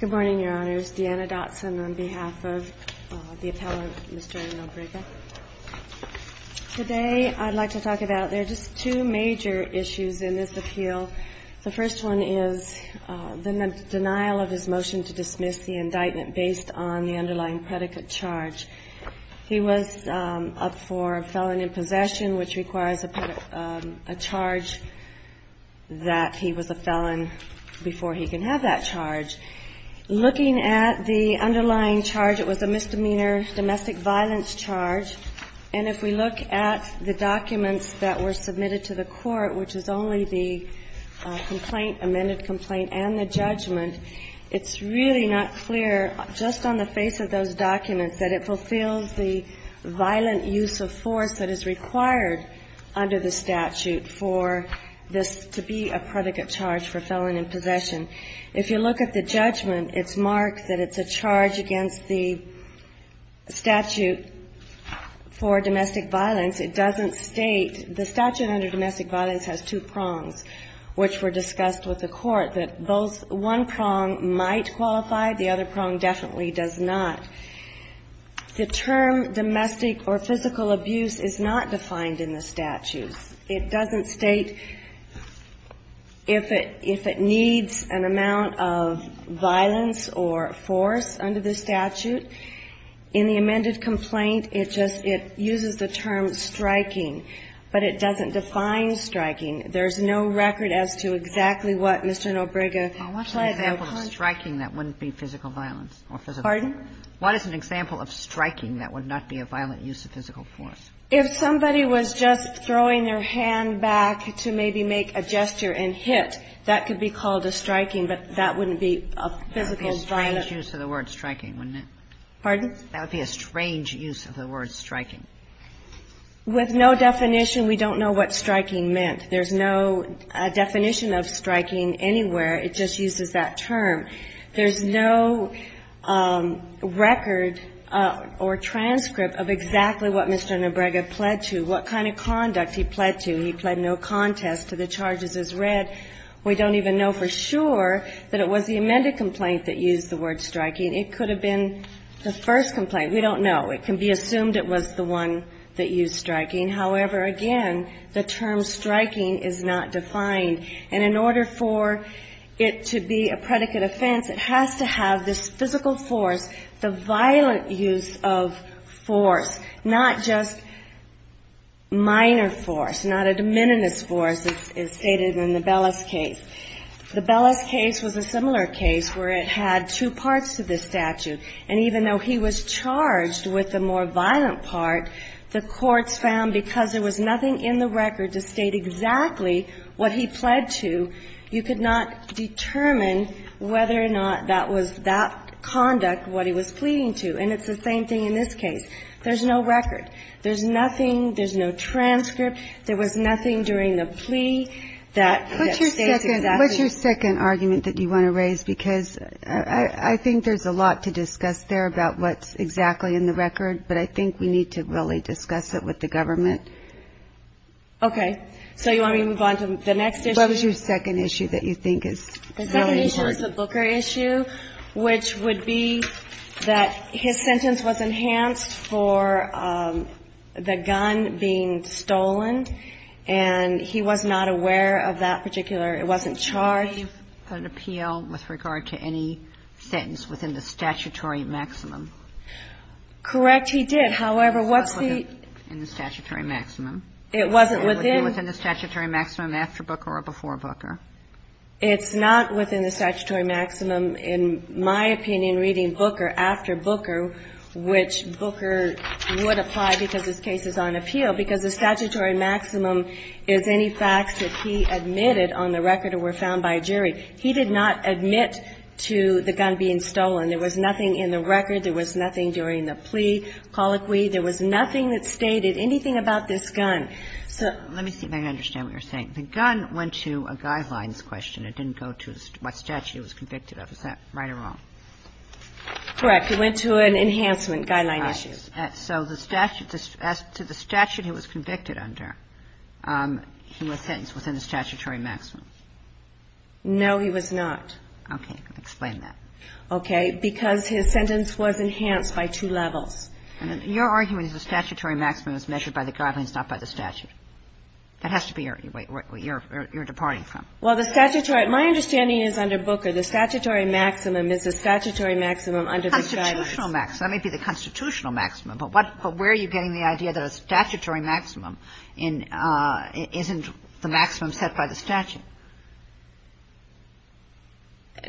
Good morning, Your Honors. Deanna Dotson on behalf of the appellant, Mr. NoBriga. Today I'd like to talk about, there are just two major issues in this appeal. The first one is the denial of his motion to dismiss the indictment based on the underlying predicate charge. He was up for felon in possession, which requires a charge that he was a felon before he can have that charge. Looking at the underlying charge, it was a misdemeanor domestic violence charge. And if we look at the documents that were submitted to the court, which is only the complaint, amended complaint, and the judgment, it's really not clear, just on the face of those documents, that it fulfills the violent use of force that is required under the statute for this to be a predicate charge for felon in possession. If you look at the judgment, it's marked that it's a charge against the statute for domestic violence. It doesn't state, the statute under domestic violence has two prongs, which were discussed with the court, that both, one prong might qualify, the other prong definitely does not. The term domestic or physical abuse is not defined in the statute. It doesn't state if it needs an amount of violence or force under the statute. In the amended complaint, it just, it uses the term striking, but it doesn't define striking. There's no record as to exactly what Mr. Nobrega pled the charge. Kagan. What's an example of striking that wouldn't be physical violence or physical force? Pardon? What is an example of striking that would not be a violent use of physical force? If somebody was just throwing their hand back to maybe make a gesture and hit, that could be called a striking, but that wouldn't be a physical violence. That would be a strange use of the word striking, wouldn't it? Pardon? That would be a strange use of the word striking. With no definition, we don't know what striking meant. There's no definition of striking anywhere. It just uses that term. There's no record or transcript of exactly what Mr. Nobrega pled to, what kind of conduct he pled to. He pled no contest to the charges as read. We don't even know for sure that it was the amended complaint that used the word striking. It could have been the first complaint. We don't know. It can be assumed it was the one that used striking. However, again, the term striking is not defined. And in order for it to be a predicate offense, it has to have this physical force, the violent use of force, not just minor force, not a de minimis force, as stated in the Bellis case. The Bellis case was a similar case where it had two parts to this statute. And even though he was charged with the more violent part, the courts found because there was nothing in the record to state exactly what he pled to, you could not determine whether or not that was that conduct, what he was pleading to. And it's the same thing in this case. There's no record. There's nothing, there's no transcript. There was nothing during the plea that states exactly. What's your second argument that you want to raise? Because I think there's a lot to discuss there about what's exactly in the record. But I think we need to really discuss it with the government. Okay. So you want me to move on to the next issue? What was your second issue that you think is really important? The second issue is the Booker issue, which would be that his sentence was enhanced for the gun being stolen, and he was not aware of that particular, it wasn't charged. He made an appeal with regard to any sentence within the statutory maximum. Correct, he did. However, what's the ---- It wasn't within the statutory maximum. It wasn't within ---- It was within the statutory maximum after Booker or before Booker. It's not within the statutory maximum, in my opinion, reading Booker after Booker, which Booker would apply because this case is on appeal, because the statutory maximum is any facts that he admitted on the record or were found by a jury. He did not admit to the gun being stolen. There was nothing in the record. There was nothing during the plea colloquy. There was nothing that stated anything about this gun. So ---- Let me see if I can understand what you're saying. The gun went to a guidelines question. It didn't go to what statute it was convicted of. Is that right or wrong? Correct. It went to an enhancement guideline issue. All right. So the statute, as to the statute he was convicted under, he was sentenced within the statutory maximum. No, he was not. Okay. Explain that. Okay. Because his sentence was enhanced by two levels. Your argument is the statutory maximum is measured by the guidelines, not by the statute. That has to be where you're departing from. Well, the statutory ---- my understanding is under Booker, the statutory maximum is the statutory maximum under the guidance. Constitutional maximum. That may be the constitutional maximum. But what ---- but where are you getting the idea that a statutory maximum isn't the maximum set by the statute?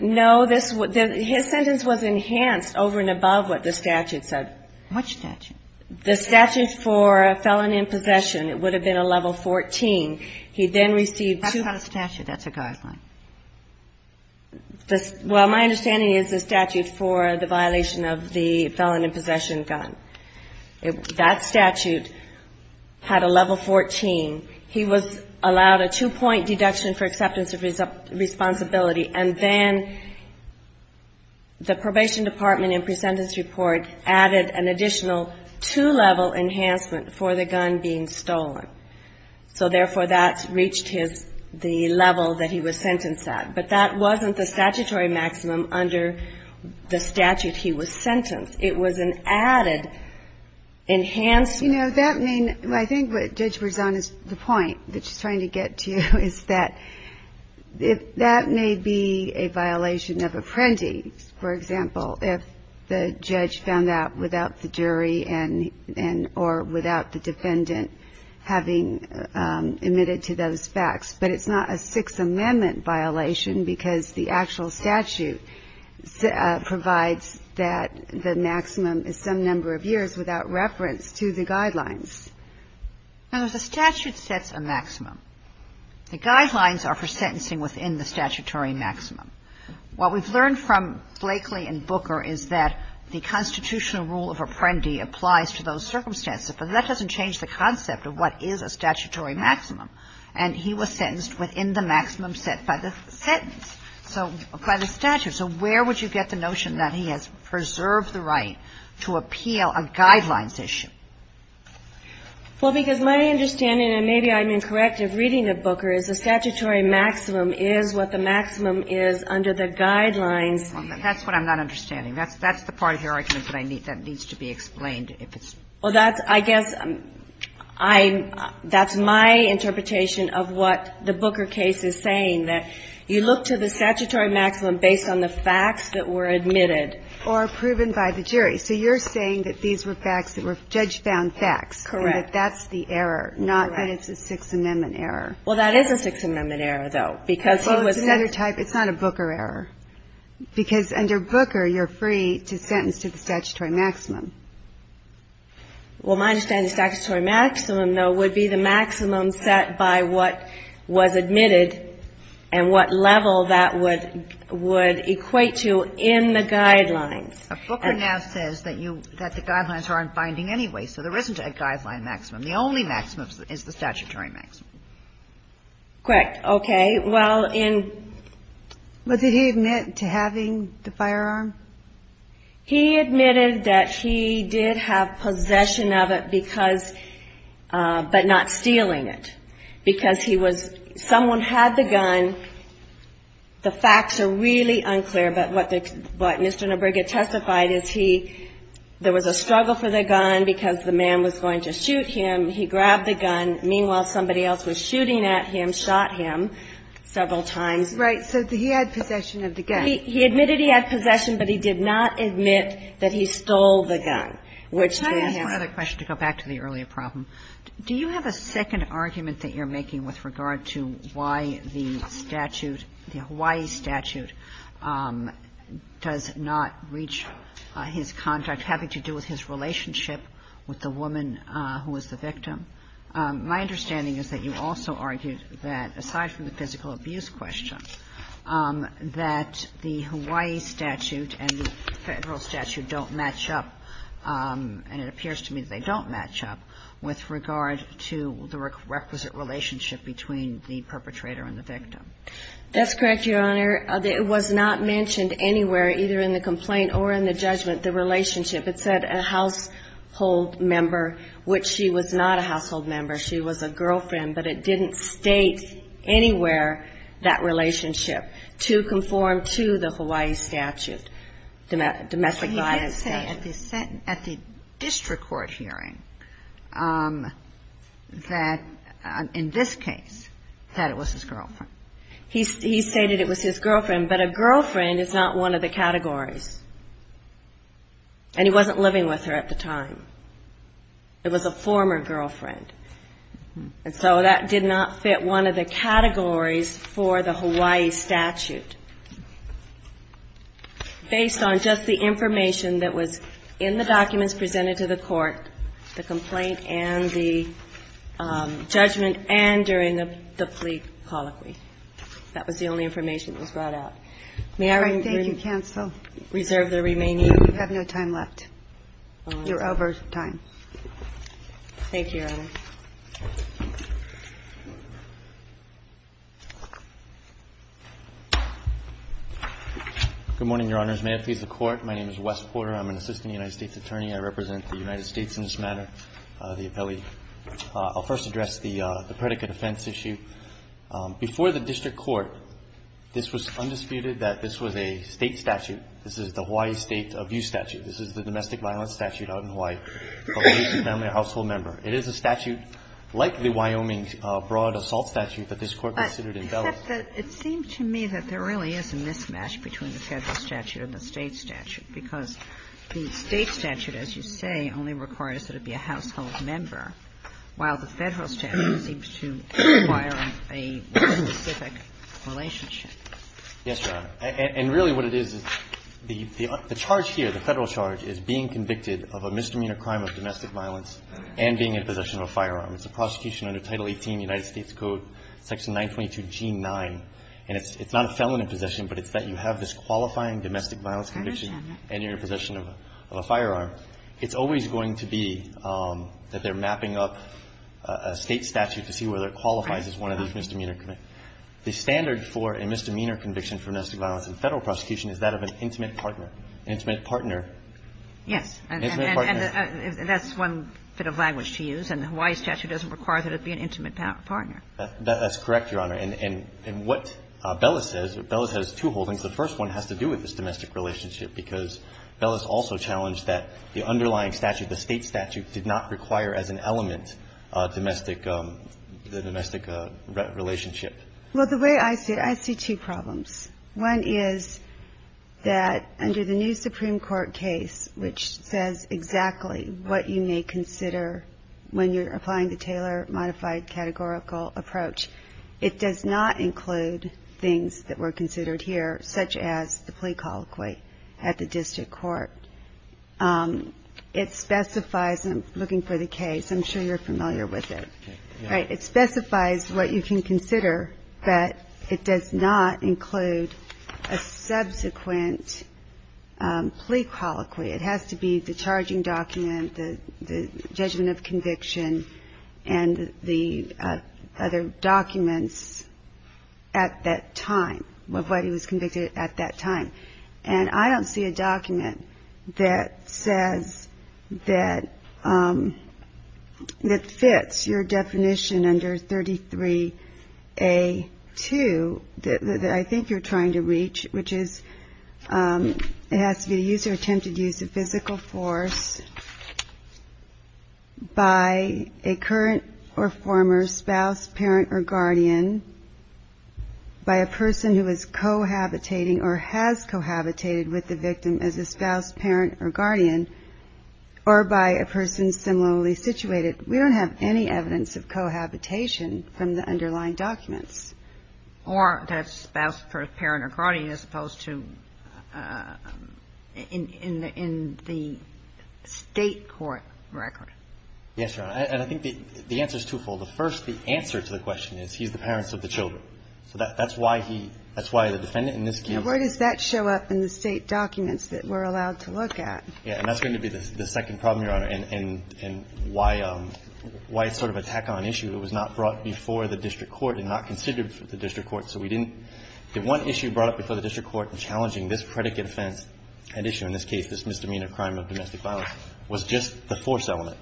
No, this ---- his sentence was enhanced over and above what the statute said. What statute? The statute for felon in possession. It would have been a level 14. He then received two ---- That's not a statute. That's a guideline. Well, my understanding is the statute for the violation of the felon in possession gun. That statute had a level 14. He was allowed a two-point deduction for acceptance of responsibility. And then the probation department in presentence report added an additional two-level enhancement for the gun being stolen. So, therefore, that reached his ---- the level that he was sentenced at. But that wasn't the statutory maximum under the statute he was sentenced. It was an added enhanced ---- You know, that may ---- I think what Judge Berzon is the point that she's trying to get to is that if that may be a violation of apprentice, for example, if the judge found that without the jury and or without the defendant having admitted to those facts. But it's not a Sixth Amendment violation because the actual statute provides that the maximum is some number of years without reference to the guidelines. Now, the statute sets a maximum. The guidelines are for sentencing within the statutory maximum. What we've learned from Blakely and Booker is that the constitutional rule of apprendi applies to those circumstances. But that doesn't change the concept of what is a statutory maximum. And he was sentenced within the maximum set by the sentence, so by the statute. So where would you get the notion that he has preserved the right to appeal a guidelines issue? Well, because my understanding, and maybe I'm incorrect in reading of Booker, is a statutory maximum is what the maximum is under the guidelines. That's what I'm not understanding. That's the part of your argument that needs to be explained. Well, that's, I guess, I'm ---- that's my interpretation of what the Booker case is saying, that you look to the statutory maximum based on the facts that were admitted. Or proven by the jury. So you're saying that these were facts that were judge-found facts. Correct. And that that's the error, not that it's a Sixth Amendment error. Well, that is a Sixth Amendment error, though, because he was ---- Well, it's another type. It's not a Booker error. Because under Booker, you're free to sentence to the statutory maximum. Well, my understanding is the statutory maximum, though, would be the maximum set by what was admitted and what level that would equate to in the guidelines. Booker now says that you ---- that the guidelines are unfinding anyway, so there isn't a guideline maximum. The only maximum is the statutory maximum. Correct. Okay. Well, in ---- But did he admit to having the firearm? He admitted that he did have possession of it because ---- but not stealing it. Because he was ---- someone had the gun. The facts are really unclear, but what Mr. Neuberger testified is he ---- there was a struggle for the gun because the man was going to shoot him. He grabbed the gun. Meanwhile, somebody else was shooting at him, shot him several times. Right. So he had possession of the gun. He admitted he had possession, but he did not admit that he stole the gun, which is ---- Can I ask one other question to go back to the earlier problem? Do you have a second argument that you're making with regard to why the statute ---- the Hawaii statute does not reach his contract having to do with his relationship with the woman who was the victim? My understanding is that you also argued that, aside from the physical abuse question, that the Hawaii statute and the Federal statute don't match up, and it appears to me that they don't match up, with regard to the requisite relationship between the perpetrator and the victim. That's correct, Your Honor. It was not mentioned anywhere, either in the complaint or in the judgment, the relationship. It said a household member, which she was not a household member. She was a girlfriend, but it didn't state anywhere that relationship to conform to the Hawaii statute, domestic violence statute. He did say at the district court hearing that, in this case, that it was his girlfriend. He stated it was his girlfriend, but a girlfriend is not one of the categories. And he wasn't living with her at the time. It was a former girlfriend. And so that did not fit one of the categories for the Hawaii statute, based on just the information that was in the documents presented to the court, the complaint and the judgment and during the plea colloquy. That was the only information that was brought out. May I reserve the remaining? You have no time left. You're over time. Thank you, Your Honor. Good morning, Your Honors. May it please the Court. My name is Wes Porter. I'm an assistant United States attorney. I represent the United States in this matter, the appellee. I'll first address the predicate offense issue. Before the district court, this was undisputed that this was a State statute. This is the Hawaii State abuse statute. This is the domestic violence statute out in Hawaii. It is a statute like the Wyoming broad assault statute that this Court considered in Bell. But it seems to me that there really is a mismatch between the Federal statute and the State statute because the State statute, as you say, only requires that it be a household member, while the Federal statute seems to require a specific relationship. Yes, Your Honor. And really what it is, the charge here, the Federal charge, is being convicted of a misdemeanor crime of domestic violence and being in possession of a firearm. It's a prosecution under Title 18, United States Code, Section 922G9. And it's not a felon in possession, but it's that you have this qualifying domestic violence conviction and you're in possession of a firearm. It's always going to be that they're mapping up a State statute to see whether it qualifies as one of those misdemeanor convictions. The standard for a misdemeanor conviction for domestic violence in Federal prosecution is that of an intimate partner. Intimate partner. Yes. Intimate partner. And that's one bit of language to use. And the Hawaii statute doesn't require that it be an intimate partner. That's correct, Your Honor. And what Bellis says, Bellis has two holdings. The first one has to do with this domestic relationship because Bellis also challenged that the underlying statute, the State statute, did not require as an element domestic the domestic relationship. Well, the way I see it, I see two problems. One is that under the new Supreme Court case, which says exactly what you may consider when you're applying the Taylor modified categorical approach, it does not include things that were considered here, such as the plea colloquy at the district court. It specifies, and I'm looking for the case. I'm sure you're familiar with it. Right. It specifies what you can consider, but it does not include a subsequent plea colloquy. It has to be the charging document, the judgment of conviction, and the other documents at that time, of what he was convicted at that time. And I don't see a document that says that fits your definition under 33A2 that I think you're trying to reach, which is it has to be the use or attempted use of physical force by a current or former spouse, parent, or guardian, by a person who is cohabitating or has cohabitated with the victim as a spouse, parent, or guardian, or by a person similarly situated. We don't have any evidence of cohabitation from the underlying documents. Or that spouse, parent, or guardian, as opposed to in the State court record. Yes, Your Honor. And I think the answer is twofold. The first, the answer to the question is he's the parents of the children. So that's why he – that's why the defendant in this case – Now, where does that show up in the State documents that we're allowed to look at? Yeah. And that's going to be the second problem, Your Honor, and why it's sort of an attack on an issue that was not brought before the district court and not considered for the district court. So we didn't – the one issue brought up before the district court in challenging this predicate offense, an issue in this case, this misdemeanor crime of domestic violence, was just the force element.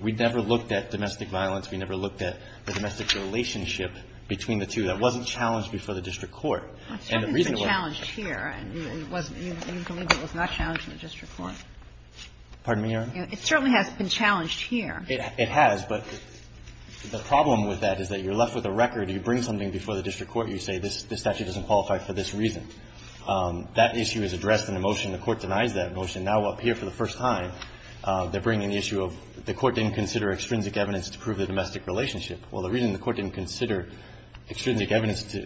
We never looked at domestic violence. We never looked at the domestic relationship between the two. That wasn't challenged before the district court. And the reason why – It certainly was challenged here. It wasn't – you believe it was not challenged in the district court. Pardon me, Your Honor? It certainly has been challenged here. It has. But the problem with that is that you're left with a record. You bring something before the district court. You say this statute doesn't qualify for this reason. That issue is addressed in a motion. The Court denies that motion. Now, up here for the first time, they're bringing the issue of the Court didn't consider extrinsic evidence to prove the domestic relationship. Well, the reason the Court didn't consider extrinsic evidence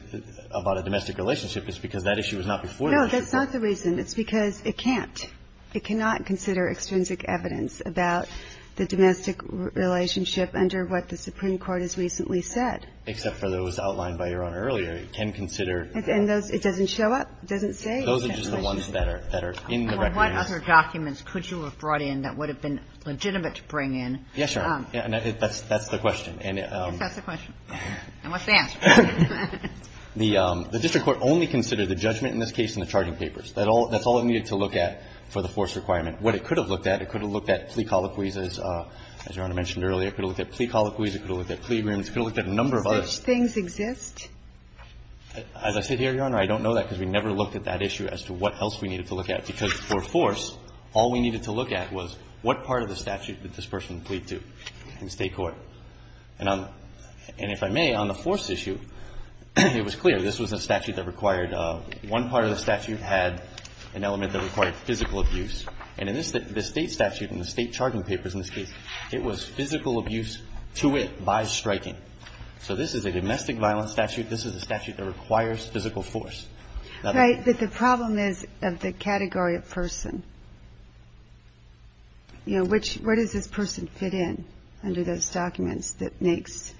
about a domestic relationship is because that issue was not before the district court. No, that's not the reason. It's because it can't. It cannot consider extrinsic evidence about the domestic relationship under what the Supreme Court has recently said. Except for those outlined by Your Honor earlier. It can consider – And those – it doesn't show up? It doesn't say? Those are just the ones that are in the record. And what other documents could you have brought in that would have been legitimate to bring in? Yes, Your Honor. That's the question. Yes, that's the question. And what's the answer? The district court only considered the judgment in this case and the charting papers. That's all it needed to look at for the force requirement. What it could have looked at, it could have looked at plea colloquies, as Your Honor mentioned earlier. It could have looked at plea colloquies. It could have looked at plea agreements. It could have looked at a number of other – Such things exist? As I said here, Your Honor, I don't know that because we never looked at that issue as to what else we needed to look at. Because for force, all we needed to look at was what part of the statute did this person plead to in the State court. And if I may, on the force issue, it was clear this was a statute that required – one part of the statute had an element that required physical abuse. And in this – the State statute and the State charting papers in this case, it was physical abuse to it by striking. So this is a domestic violence statute. This is a statute that requires physical force. Right. But the problem is of the category of person. You know, which – where does this person fit in under those documents that makes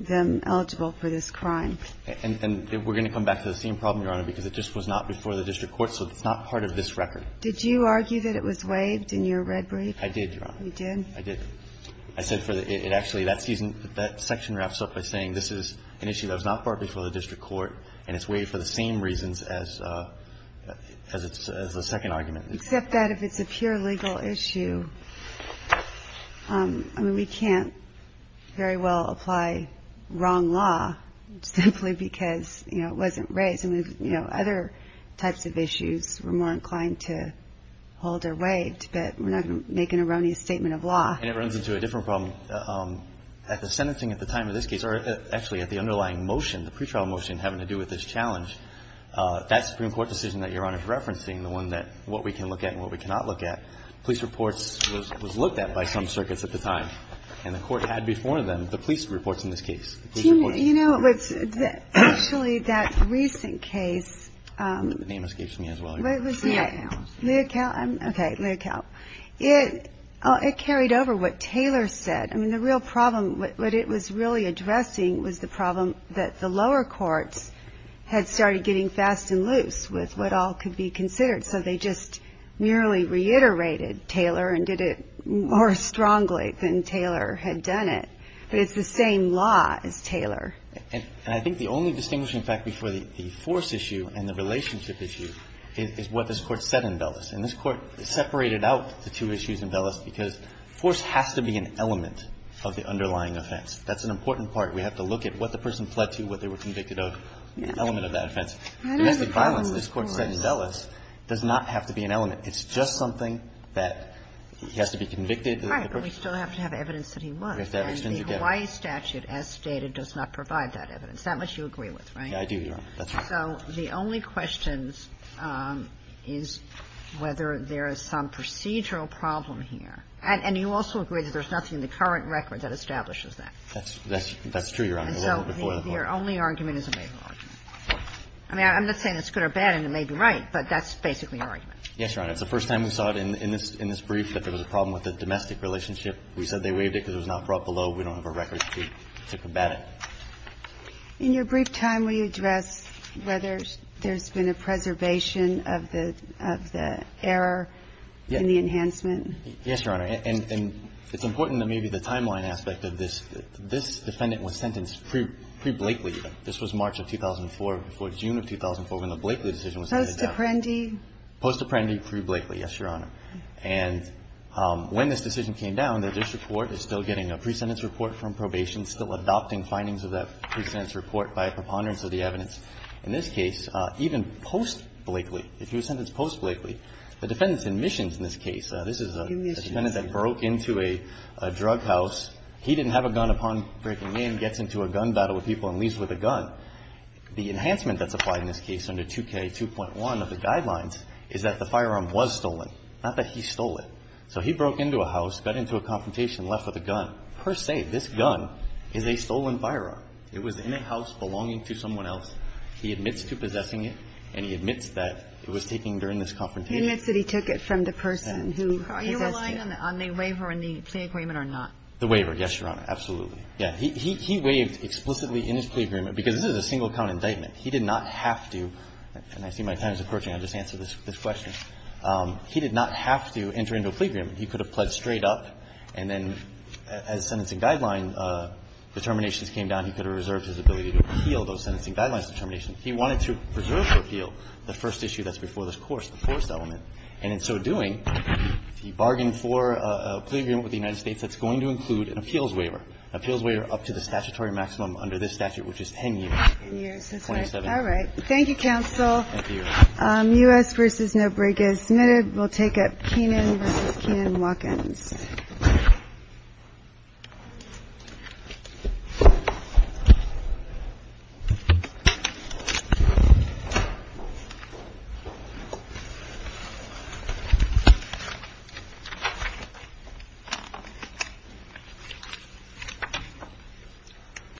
them eligible for this crime? And we're going to come back to the same problem, Your Honor, because it just was not before the district court. So it's not part of this record. Did you argue that it was waived in your red brief? I did, Your Honor. You did? I said for the – it actually – that section wraps up by saying this is an issue that was not brought before the district court and it's waived for the same reasons as the second argument. Except that if it's a pure legal issue, I mean, we can't very well apply wrong law simply because, you know, it wasn't raised. I mean, you know, other types of issues we're more inclined to hold or waive, but we're not going to make an erroneous statement of law. And it runs into a different problem. At the sentencing at the time of this case, or actually at the underlying motion, the pretrial motion having to do with this challenge, that Supreme Court decision that Your Honor is referencing, the one that what we can look at and what we cannot look at, police reports was looked at by some circuits at the time. And the court had before them the police reports in this case. You know, it was actually that recent case. The name escapes me as well. Leocal. Leocal. Okay. Leocal. It carried over what Taylor said. I mean, the real problem, what it was really addressing was the problem that the lower courts had started getting fast and loose with what all could be considered. So they just merely reiterated Taylor and did it more strongly than Taylor had done it. But it's the same law as Taylor. And I think the only distinguishing fact before the force issue and the relationship issue is what this Court said in Bellis. And this Court separated out the two issues in Bellis because force has to be an element of the underlying offense. That's an important part. We have to look at what the person fled to, what they were convicted of, the element of that offense. Domestic violence, this Court said in Bellis, does not have to be an element. It's just something that he has to be convicted. Right. But we still have to have evidence that he was. And the Hawaii statute, as stated, does not provide that evidence. That much you agree with, right? I do, Your Honor. So the only questions is whether there is some procedural problem here. And you also agree that there's nothing in the current record that establishes that. That's true, Your Honor. And so the only argument is a legal argument. I mean, I'm not saying it's good or bad, and it may be right, but that's basically an argument. Yes, Your Honor. It's the first time we saw it in this brief that there was a problem with the domestic relationship. We said they waived it because it was not brought below. We don't have a record to combat it. In your brief time, will you address whether there's been a preservation of the error in the enhancement? Yes, Your Honor. And it's important that maybe the timeline aspect of this. This defendant was sentenced pre-Blakely. This was March of 2004, before June of 2004, when the Blakely decision was handed down. Post-apprendi? Post-apprendi pre-Blakely, yes, Your Honor. And when this decision came down, the district court is still getting a pre-sentence report from probation, still adopting findings of that pre-sentence report by a preponderance of the evidence. In this case, even post-Blakely, if he was sentenced post-Blakely, the defendant's admissions in this case, this is a defendant that broke into a drug house. He didn't have a gun upon breaking in, gets into a gun battle with people, and leaves with a gun. The enhancement that's applied in this case under 2K2.1 of the guidelines is that the firearm was stolen, not that he stole it. So he broke into a house, got into a confrontation, left with a gun. Per se, this gun is a stolen firearm. It was in a house belonging to someone else. He admits to possessing it, and he admits that it was taken during this confrontation. He admits that he took it from the person who possessed it. Are you relying on the waiver in the plea agreement or not? The waiver, yes, Your Honor, absolutely. He waived explicitly in his plea agreement, because this is a single-count indictment. He did not have to, and I see my time is approaching. I'll just answer this question. He did not have to enter into a plea agreement. He could have pledged straight up, and then as sentencing guideline determinations came down, he could have reserved his ability to appeal those sentencing guidelines determinations. He wanted to preserve the appeal, the first issue that's before this course, the first element. And in so doing, he bargained for a plea agreement with the United States that's going to include an appeals waiver, an appeals waiver up to the statutory maximum under this statute, which is 10 years. 10 years, that's right. All right. Thank you, counsel. Thank you. U.S. v. No Break is submitted. We'll take up Keenan v. Keenan-Watkins.